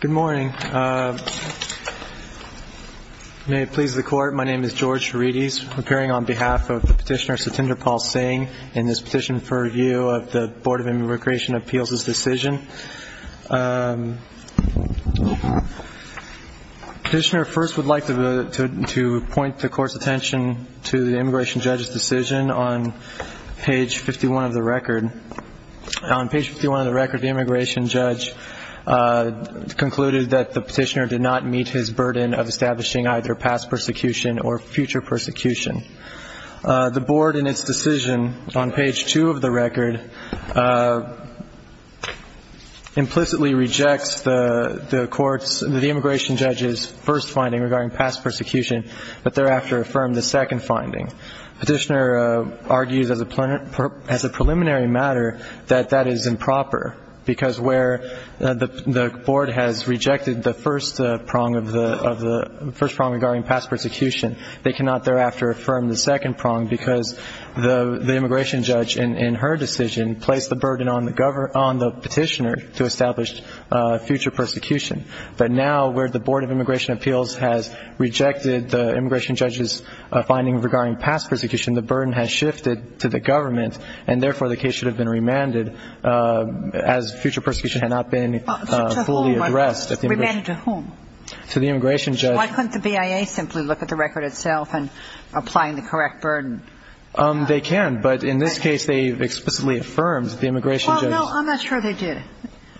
Good morning. May it please the court, my name is George Charides, appearing on behalf of the petitioner Satinderpal Singh in this petition for review of the Board of Immigration Appeals' decision. The petitioner first would like to point the court's attention to the immigration judge's decision on page 51 of the record. On page 51 of the record, the immigration judge concluded that the petitioner did not meet his burden of establishing either past persecution or future persecution. The board in its decision on page 2 of the record implicitly rejects the court's, the immigration judge's first finding regarding past persecution, but thereafter affirmed the second finding. The petitioner argues as a preliminary matter that that is improper because where the board has rejected the first prong of the, first prong regarding past persecution, they cannot thereafter affirm the second prong because the immigration judge in her decision placed the burden on the petitioner to establish future persecution. But now where the Board of Immigration Appeals has rejected the immigration judge's finding regarding past persecution, the burden has shifted to the government, and therefore the case should have been remanded as future persecution had not been fully addressed. Remanded to whom? To the immigration judge. Why couldn't the BIA simply look at the record itself and apply the correct burden? They can, but in this case they explicitly affirmed the immigration judge's. I'm not sure they did.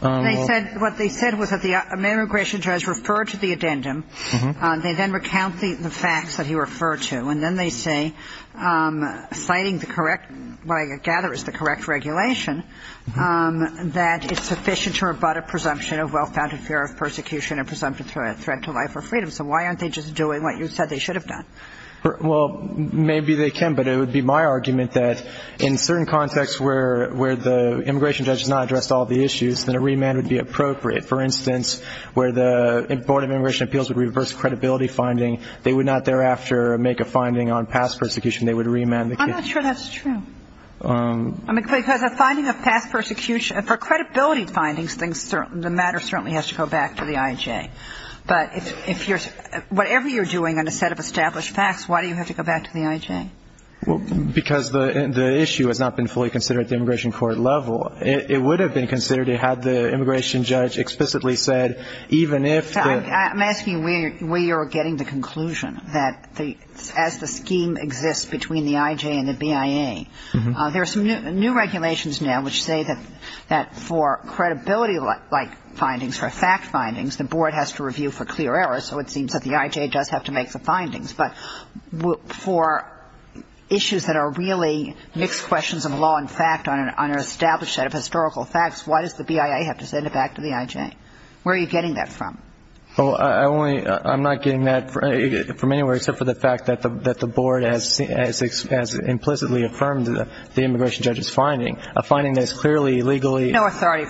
They said, what they said was that the immigration judge referred to the addendum. They then recount the facts that he referred to, and then they say, citing the correct, what I gather is the correct regulation, that it's sufficient to rebut a presumption of well-founded fear of persecution and presumptive threat to life or freedom. So why aren't they just doing what you said they should have done? Well, maybe they can, but it would be my argument that in certain contexts where the immigration judge has not addressed all the issues, then a remand would be appropriate. For instance, where the Board of Immigration Appeals would reverse credibility finding, they would not thereafter make a finding on past persecution. They would remand the case. I'm not sure that's true. Because a finding of past persecution, for credibility findings, the matter certainly has to go back to the IHA. But if you're – whatever you're doing on a set of established facts, why do you have to go back to the IHA? Because the issue has not been fully considered at the immigration court level. It would have been considered had the immigration judge explicitly said, even if the – I'm asking where you're getting the conclusion, that as the scheme exists between the IHA and the BIA, there are some new regulations now which say that for credibility-like findings or fact findings, the board has to review for clear error, so it seems that the IHA does have to make the findings. But for issues that are really mixed questions of law and fact on an established set of historical facts, why does the BIA have to send it back to the IHA? Where are you getting that from? Well, I only – I'm not getting that from anywhere except for the fact that the board has implicitly affirmed the immigration judge's finding, a finding that is clearly legally – No, I can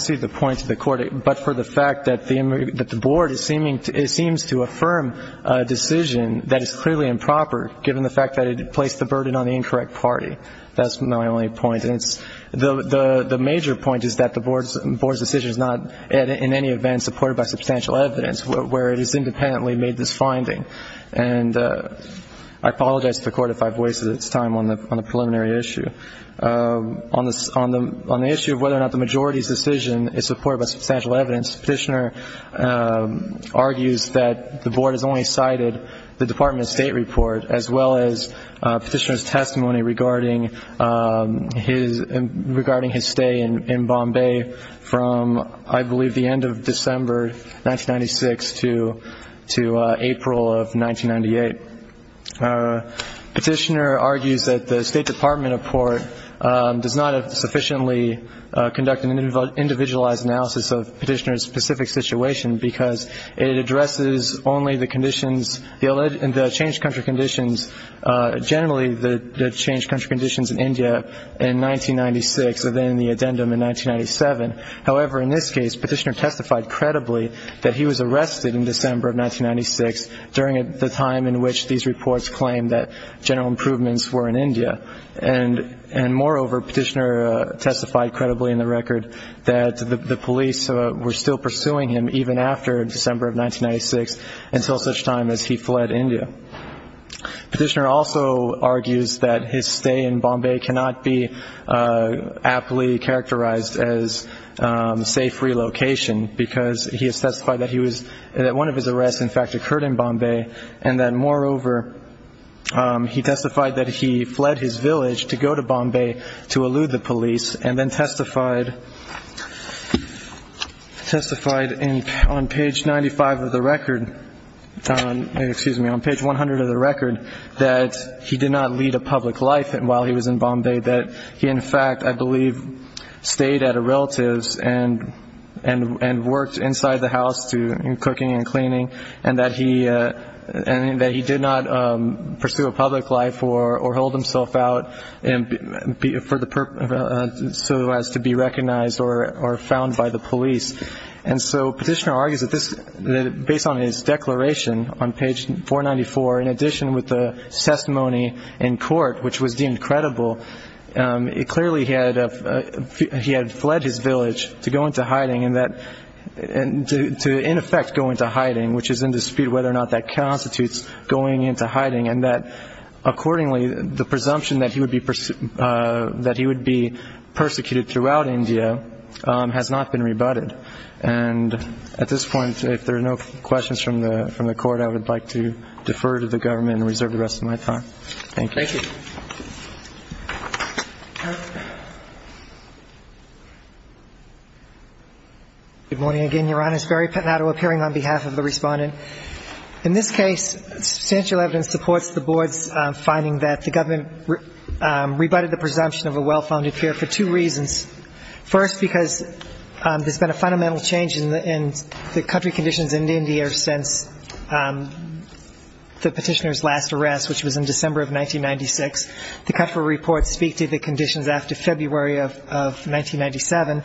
see the point to the Court. But for the fact that the board is seeming – it seems to affirm a decision that is clearly improper, given the fact that it placed the burden on the incorrect party. That's my only point. And it's – the major point is that the board's decision is not in any event supported by substantial evidence, where it has independently made this finding. And I apologize to the Court if I've wasted its time on the preliminary issue. On the issue of whether or not the majority's decision is supported by substantial evidence, Petitioner argues that the board has only cited the Department of State report, as well as Petitioner's testimony regarding his stay in Bombay from, I believe, the end of December 1996 to April of 1998. Petitioner argues that the State Department report does not sufficiently conduct an individualized analysis of Petitioner's specific situation because it addresses only the conditions – the changed country conditions, generally the changed country conditions in India in 1996 and then the addendum in 1997. However, in this case, Petitioner testified credibly that he was arrested in December of 1996 during the time in which these reports claimed that general improvements were in India. And moreover, Petitioner testified credibly in the record that the police were still pursuing him even after December of 1996 until such time as he fled India. Petitioner also argues that his stay in Bombay cannot be aptly characterized as safe relocation because he has testified that he was – that one of his arrests, in fact, occurred in Bombay and that, moreover, he testified that he fled his village to go to Bombay to elude the police and then testified on page 95 of the record – excuse me, on page 100 of the record that he did not lead a public life while he was in Bombay, that he, in fact, I believe, stayed at a relative's and worked inside the house in cooking and cleaning and that he did not pursue a public life or hold himself out so as to be recognized or found by the police. And so Petitioner argues that based on his declaration on page 494, in addition with the testimony in court, which was deemed credible, clearly he had fled his village to go into hiding and that – to, in effect, go into hiding, which is in dispute whether or not that constitutes going into hiding and that, accordingly, the presumption that he would be persecuted throughout India has not been rebutted. And at this point, if there are no questions from the court, I would like to defer to the government and reserve the rest of my time. Thank you. Thank you. Good morning again. Your Honor, it's Barry Pettinato appearing on behalf of the respondent. In this case, substantial evidence supports the Board's finding that the government rebutted the presumption of a well-founded fear for two reasons. First, because there's been a fundamental change in the country conditions in India since the Petitioner's last arrest, which was in December of 1996. The country reports speak to the conditions after February of 1997.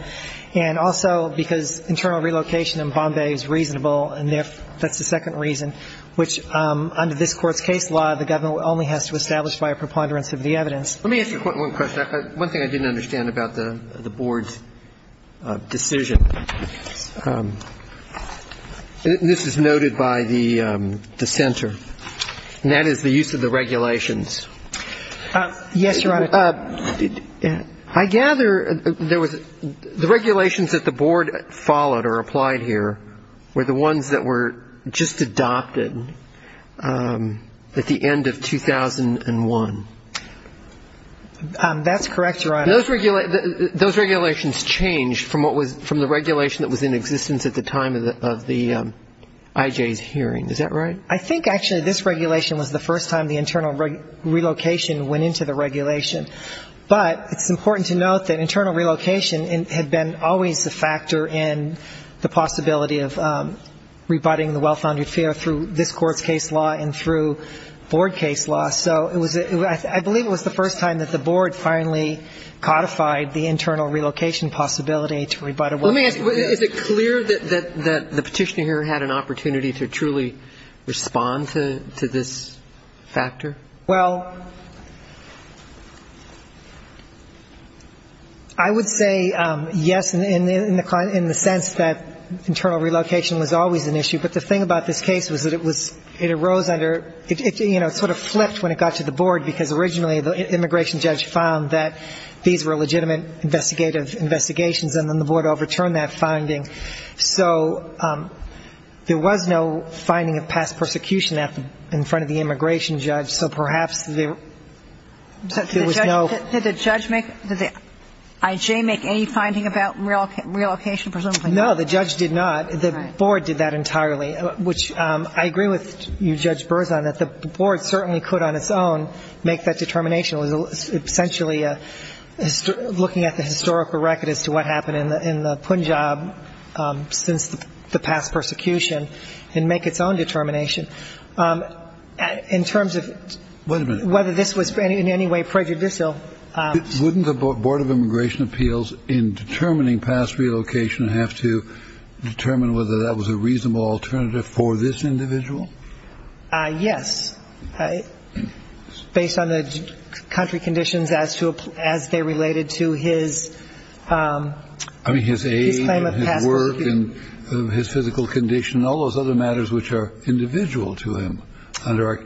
And also because internal relocation in Bombay is reasonable, and that's the second reason, which under this Court's case law the government only has to establish by a preponderance of the evidence. Let me ask you one question. One thing I didn't understand about the Board's decision. This is noted by the dissenter, and that is the use of the regulations. Yes, Your Honor. I gather there was the regulations that the Board followed or applied here were the ones that were just adopted at the end of 2001. That's correct, Your Honor. Those regulations changed from the regulation that was in existence at the time of the IJ's hearing. Is that right? I think actually this regulation was the first time the internal relocation went into the regulation. But it's important to note that internal relocation had been always a factor in the possibility of rebutting the well-founded fear through this Court's case law and through Board case law. So I believe it was the first time that the Board finally codified the internal relocation possibility to rebut a well-founded fear. Let me ask you, is it clear that the Petitioner here had an opportunity to truly respond to this factor? Well, I would say yes in the sense that internal relocation was always an issue. But the thing about this case was that it arose under ‑‑ it sort of flipped when it got to the Board because originally the immigration judge found that these were legitimate investigative investigations, and then the Board overturned that finding. So there was no finding of past persecution in front of the immigration judge, so perhaps there was no ‑‑ Did the judge make ‑‑ did the IJ make any finding about relocation? Presumably not. No, the judge did not. The Board did that entirely, which I agree with you, Judge Berzon, that the Board certainly could on its own make that determination. It was essentially looking at the historical record as to what happened in the Punjab since the past persecution and make its own determination. In terms of whether this was in any way prejudicial ‑‑ Yes. Based on the country conditions as they related to his claim of past persecution. I mean, his aid and his work and his physical condition and all those other matters which are individual to him under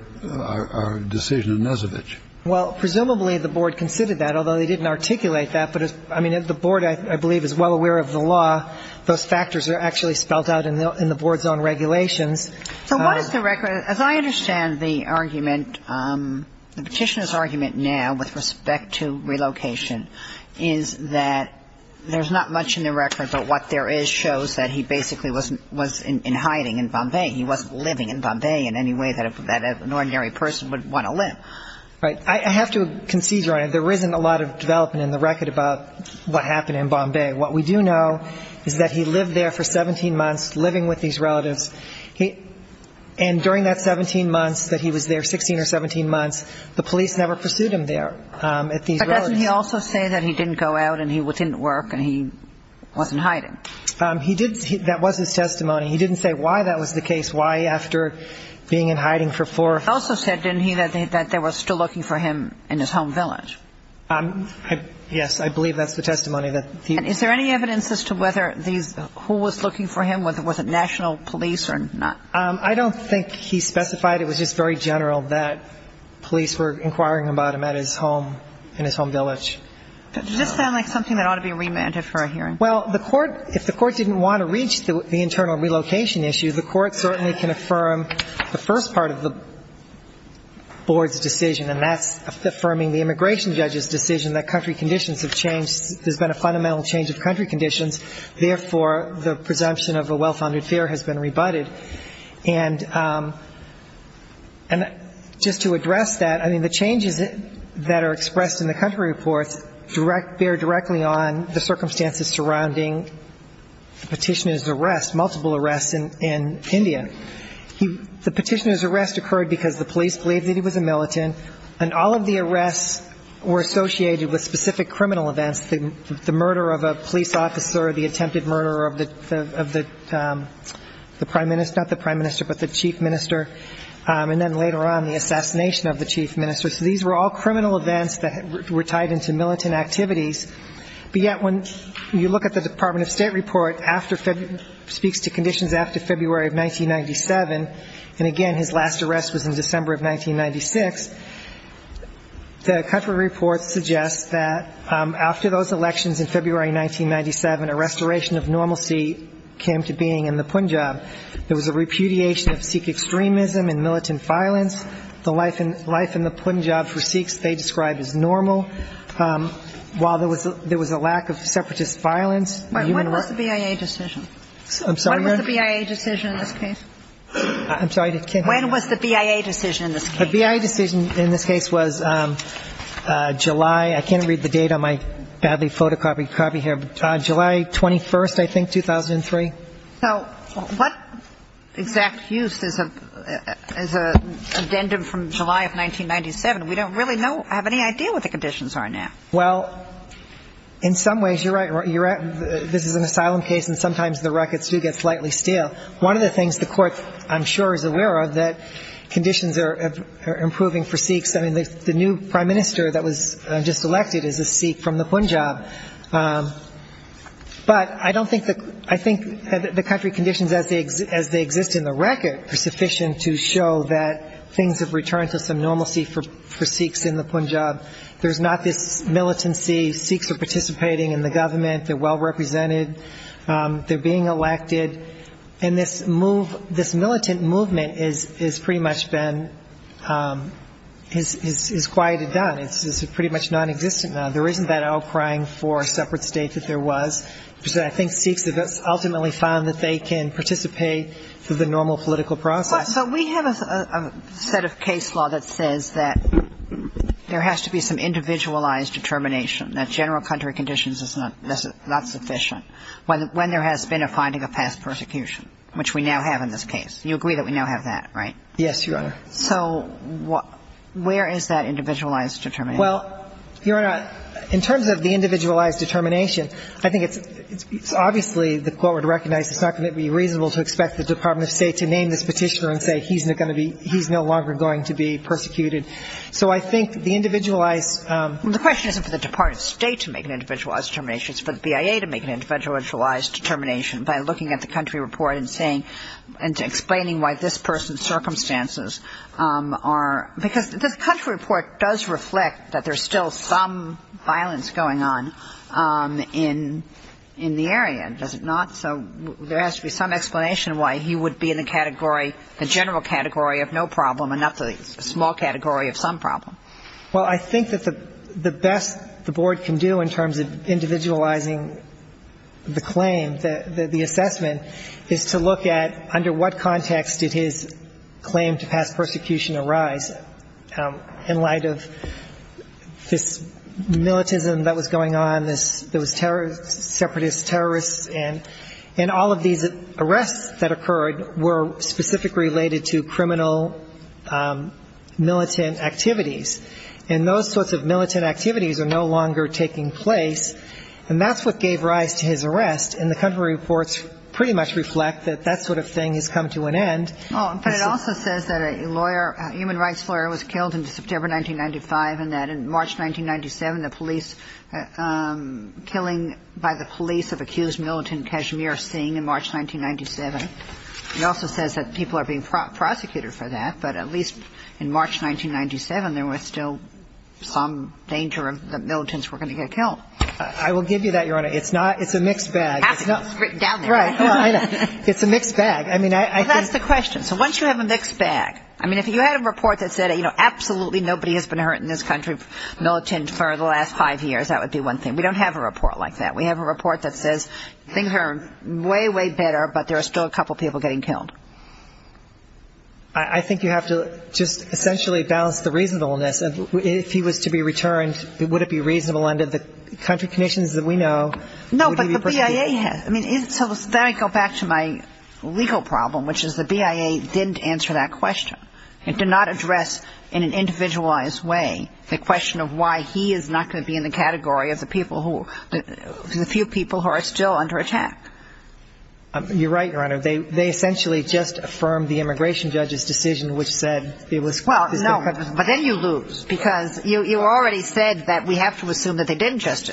our decision in Nesovich. Well, presumably the Board considered that, although they didn't articulate that. But, I mean, the Board, I believe, is well aware of the law. Those factors are actually spelled out in the Board's own regulations. So what is the record? As I understand the argument, the petitioner's argument now with respect to relocation is that there's not much in the record, but what there is shows that he basically was in hiding in Bombay. He wasn't living in Bombay in any way that an ordinary person would want to live. Right. I have to concede, Your Honor, there isn't a lot of development in the record about what happened in Bombay. What we do know is that he lived there for 17 months, living with these relatives. And during that 17 months that he was there, 16 or 17 months, the police never pursued him there at these relatives. But doesn't he also say that he didn't go out and he didn't work and he wasn't hiding? That was his testimony. He didn't say why that was the case, why after being in hiding for four ‑‑ He also said, didn't he, that they were still looking for him in his home village. Yes, I believe that's the testimony. And is there any evidence as to whether these ‑‑ who was looking for him, was it national police or not? I don't think he specified. It was just very general that police were inquiring about him at his home, in his home village. Does this sound like something that ought to be remanded for a hearing? Well, the court, if the court didn't want to reach the internal relocation issue, the court certainly can affirm the first part of the board's decision, and that's affirming the immigration judge's decision that country conditions have changed. There's been a fundamental change of country conditions, therefore the presumption of a well‑founded fear has been rebutted. And just to address that, I mean, the changes that are expressed in the country reports bear directly on the circumstances surrounding the petitioner's arrest, multiple arrests in India. The petitioner's arrest occurred because the police believed that he was a militant And all of the arrests were associated with specific criminal events, the murder of a police officer, the attempted murder of the prime minister, not the prime minister, but the chief minister, and then later on the assassination of the chief minister. So these were all criminal events that were tied into militant activities. But yet when you look at the Department of State report, after ‑‑ speaks to conditions after February of 1997, and again his last arrest was in December of 1996, the country report suggests that after those elections in February of 1997, a restoration of normalcy came to being in the Punjab. There was a repudiation of Sikh extremism and militant violence. The life in the Punjab for Sikhs they described as normal, while there was a lack of separatist violence. When was the BIA decision? I'm sorry? When was the BIA decision in this case? The BIA decision in this case was July ‑‑ I can't read the date on my badly photocopied copy here, but July 21st, I think, 2003. So what exact use is an addendum from July of 1997? We don't really have any idea what the conditions are now. Well, in some ways you're right. This is an asylum case, and sometimes the ruckets do get slightly stale. One of the things the court, I'm sure, is aware of, that conditions are improving for Sikhs. The new prime minister that was just elected is a Sikh from the Punjab. But I think the country conditions as they exist in the record are sufficient to show that things have returned to some normalcy for Sikhs in the Punjab. There's not this militancy. Sikhs are participating in the government. They're well represented. They're being elected. And this militant movement has pretty much been quieted down. It's pretty much nonexistent now. There isn't that outcrying for a separate state that there was, which I think Sikhs have ultimately found that they can participate through the normal political process. But we have a set of case law that says that there has to be some individualized determination, that general country conditions is not sufficient when there has been a finding of past persecution, which we now have in this case. You agree that we now have that, right? Yes, Your Honor. So where is that individualized determination? Well, Your Honor, in terms of the individualized determination, I think it's obviously the court would recognize it's not going to be reasonable to expect the Department of State to name this Petitioner and say he's no longer going to be persecuted. So I think the individualized ---- Well, the question isn't for the Department of State to make an individualized determination. It's for the BIA to make an individualized determination by looking at the country report and saying and explaining why this person's circumstances are ---- because this country report does reflect that there's still some violence going on in the area, does it not? So there has to be some explanation why he would be in the category, the general category of no problem and not the small category of some problem. Well, I think that the best the Board can do in terms of individualizing the claim, the assessment, is to look at under what context did his claim to pass persecution arise in light of this militism that was going on, those separatist terrorists, and all of these arrests that occurred were specifically related to criminal militant activities. And those sorts of militant activities are no longer taking place, and that's what gave rise to his arrest, and the country reports pretty much reflect that that sort of thing has come to an end. But it also says that a lawyer, a human rights lawyer, was killed in September 1995 and that in March 1997, the police ---- killing by the police of accused militant Kashmir Singh in March 1997. It also says that people are being prosecuted for that, but at least in March 1997, there was still some danger of the militants were going to get killed. I will give you that, Your Honor. It's not ---- it's a mixed bag. You have to script down there. Right. No, I know. It's a mixed bag. I mean, I think ---- Well, that's the question. So once you have a mixed bag, I mean, if you had a report that said, you know, absolutely nobody has been hurt in this country, militant, for the last five years, that would be one thing. We don't have a report like that. We have a report that says things are way, way better, but there are still a couple people getting killed. I think you have to just essentially balance the reasonableness. If he was to be returned, would it be reasonable under the country conditions that we know? No, but the BIA has ---- I mean, so then I go back to my legal problem, which is the BIA didn't answer that question. It did not address in an individualized way the question of why he is not going to be in the category of the people who ---- the few people who are still under attack. You're right, Your Honor. They essentially just affirmed the immigration judge's decision, which said it was ---- Well, no, but then you lose because you already said that we have to assume that they didn't just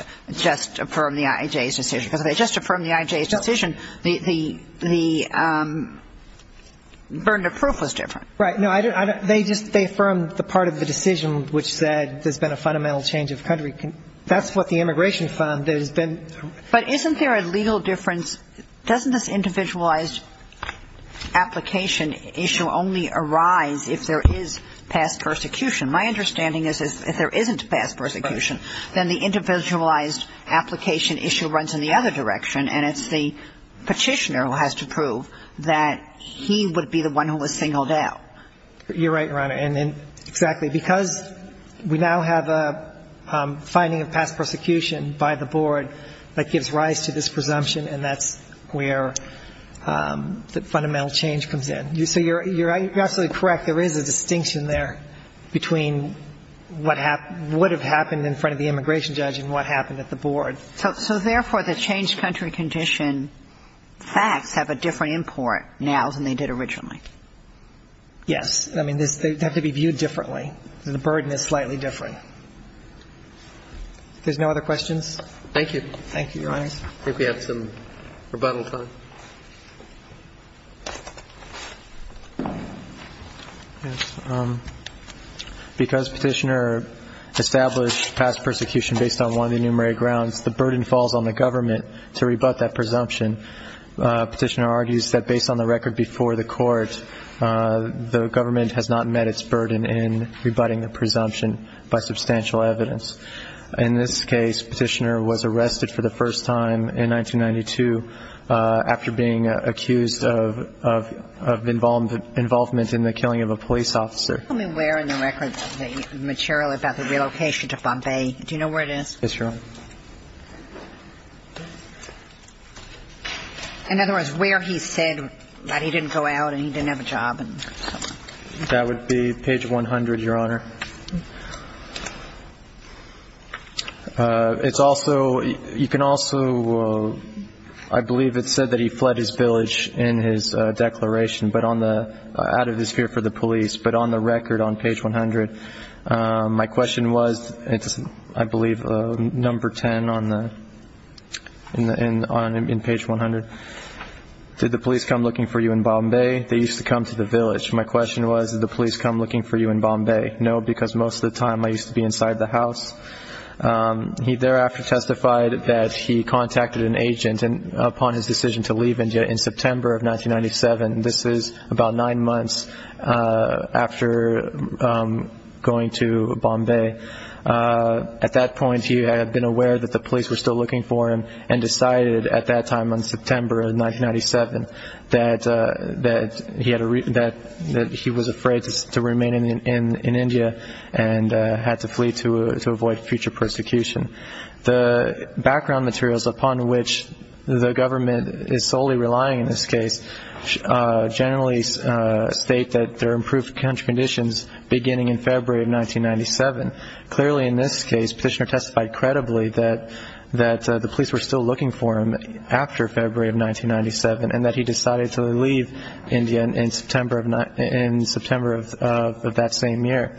affirm the IJ's decision because if they just affirmed the IJ's decision, the burden of proof was different. Right. No, they just affirmed the part of the decision which said there's been a fundamental change of country. That's what the immigration fund has been ---- But isn't there a legal difference? Doesn't this individualized application issue only arise if there is past persecution? My understanding is if there isn't past persecution, then the individualized application issue runs in the other direction, and it's the Petitioner who has to prove that he would be the one who was singled out. You're right, Your Honor. And exactly. Because we now have a finding of past persecution by the board that gives rise to this presumption, and that's where the fundamental change comes in. So you're absolutely correct. There is a distinction there between what would have happened in front of the immigration judge and what happened at the board. So, therefore, the changed country condition facts have a different import now than they did originally. Yes. I mean, they have to be viewed differently. The burden is slightly different. If there's no other questions? Thank you. Thank you, Your Honor. I think we have some rebuttal time. Yes. Because Petitioner established past persecution based on one of the enumerated grounds, the burden falls on the government to rebut that presumption. Petitioner argues that based on the record before the court, the government has not met its burden in rebutting the presumption by substantial evidence. In this case, Petitioner was arrested for the first time in 1992 after being arrested for being accused of involvement in the killing of a police officer. Tell me where in the record the material about the relocation to Bombay. Do you know where it is? Yes, Your Honor. In other words, where he said that he didn't go out and he didn't have a job. That would be page 100, Your Honor. It's also, you can also, I believe it said that he fled his village in his declaration, but on the, out of his fear for the police, but on the record on page 100. My question was, it's, I believe, number 10 on the, in page 100. Did the police come looking for you in Bombay? They used to come to the village. My question was, did the police come looking for you in Bombay? No, because most of the time I used to be inside the house. He thereafter testified that he contacted an agent upon his decision to leave India in September of 1997. This is about nine months after going to Bombay. At that point, he had been aware that the police were still looking for him and decided at that time in September of 1997 that he was afraid to remain in India and had to flee to avoid future persecution. The background materials upon which the government is solely relying in this case generally state that there are improved country conditions beginning in February of 1997. Clearly, in this case, Petitioner testified credibly that the police were still looking for him after February of 1997 and that he decided to leave India in September of that same year.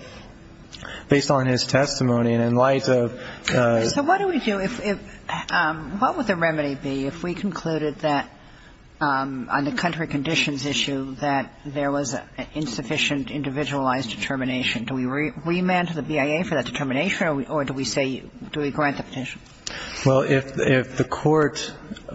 Based on his testimony and in light of ‑‑ So what do we do if, what would the remedy be if we concluded that on the country conditions issue that there was insufficient individualized determination? Do we remand to the BIA for that determination or do we say, do we grant the petition? Well, if the court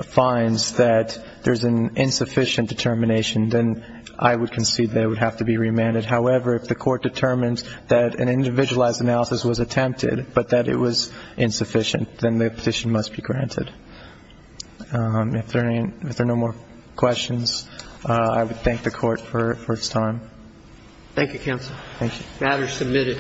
finds that there's an insufficient determination, then I would concede that it would have to be remanded. However, if the court determines that an individualized analysis was attempted but that it was insufficient, then the petition must be granted. If there are no more questions, I would thank the court for its time. Thank you, counsel. Thank you. Thank you.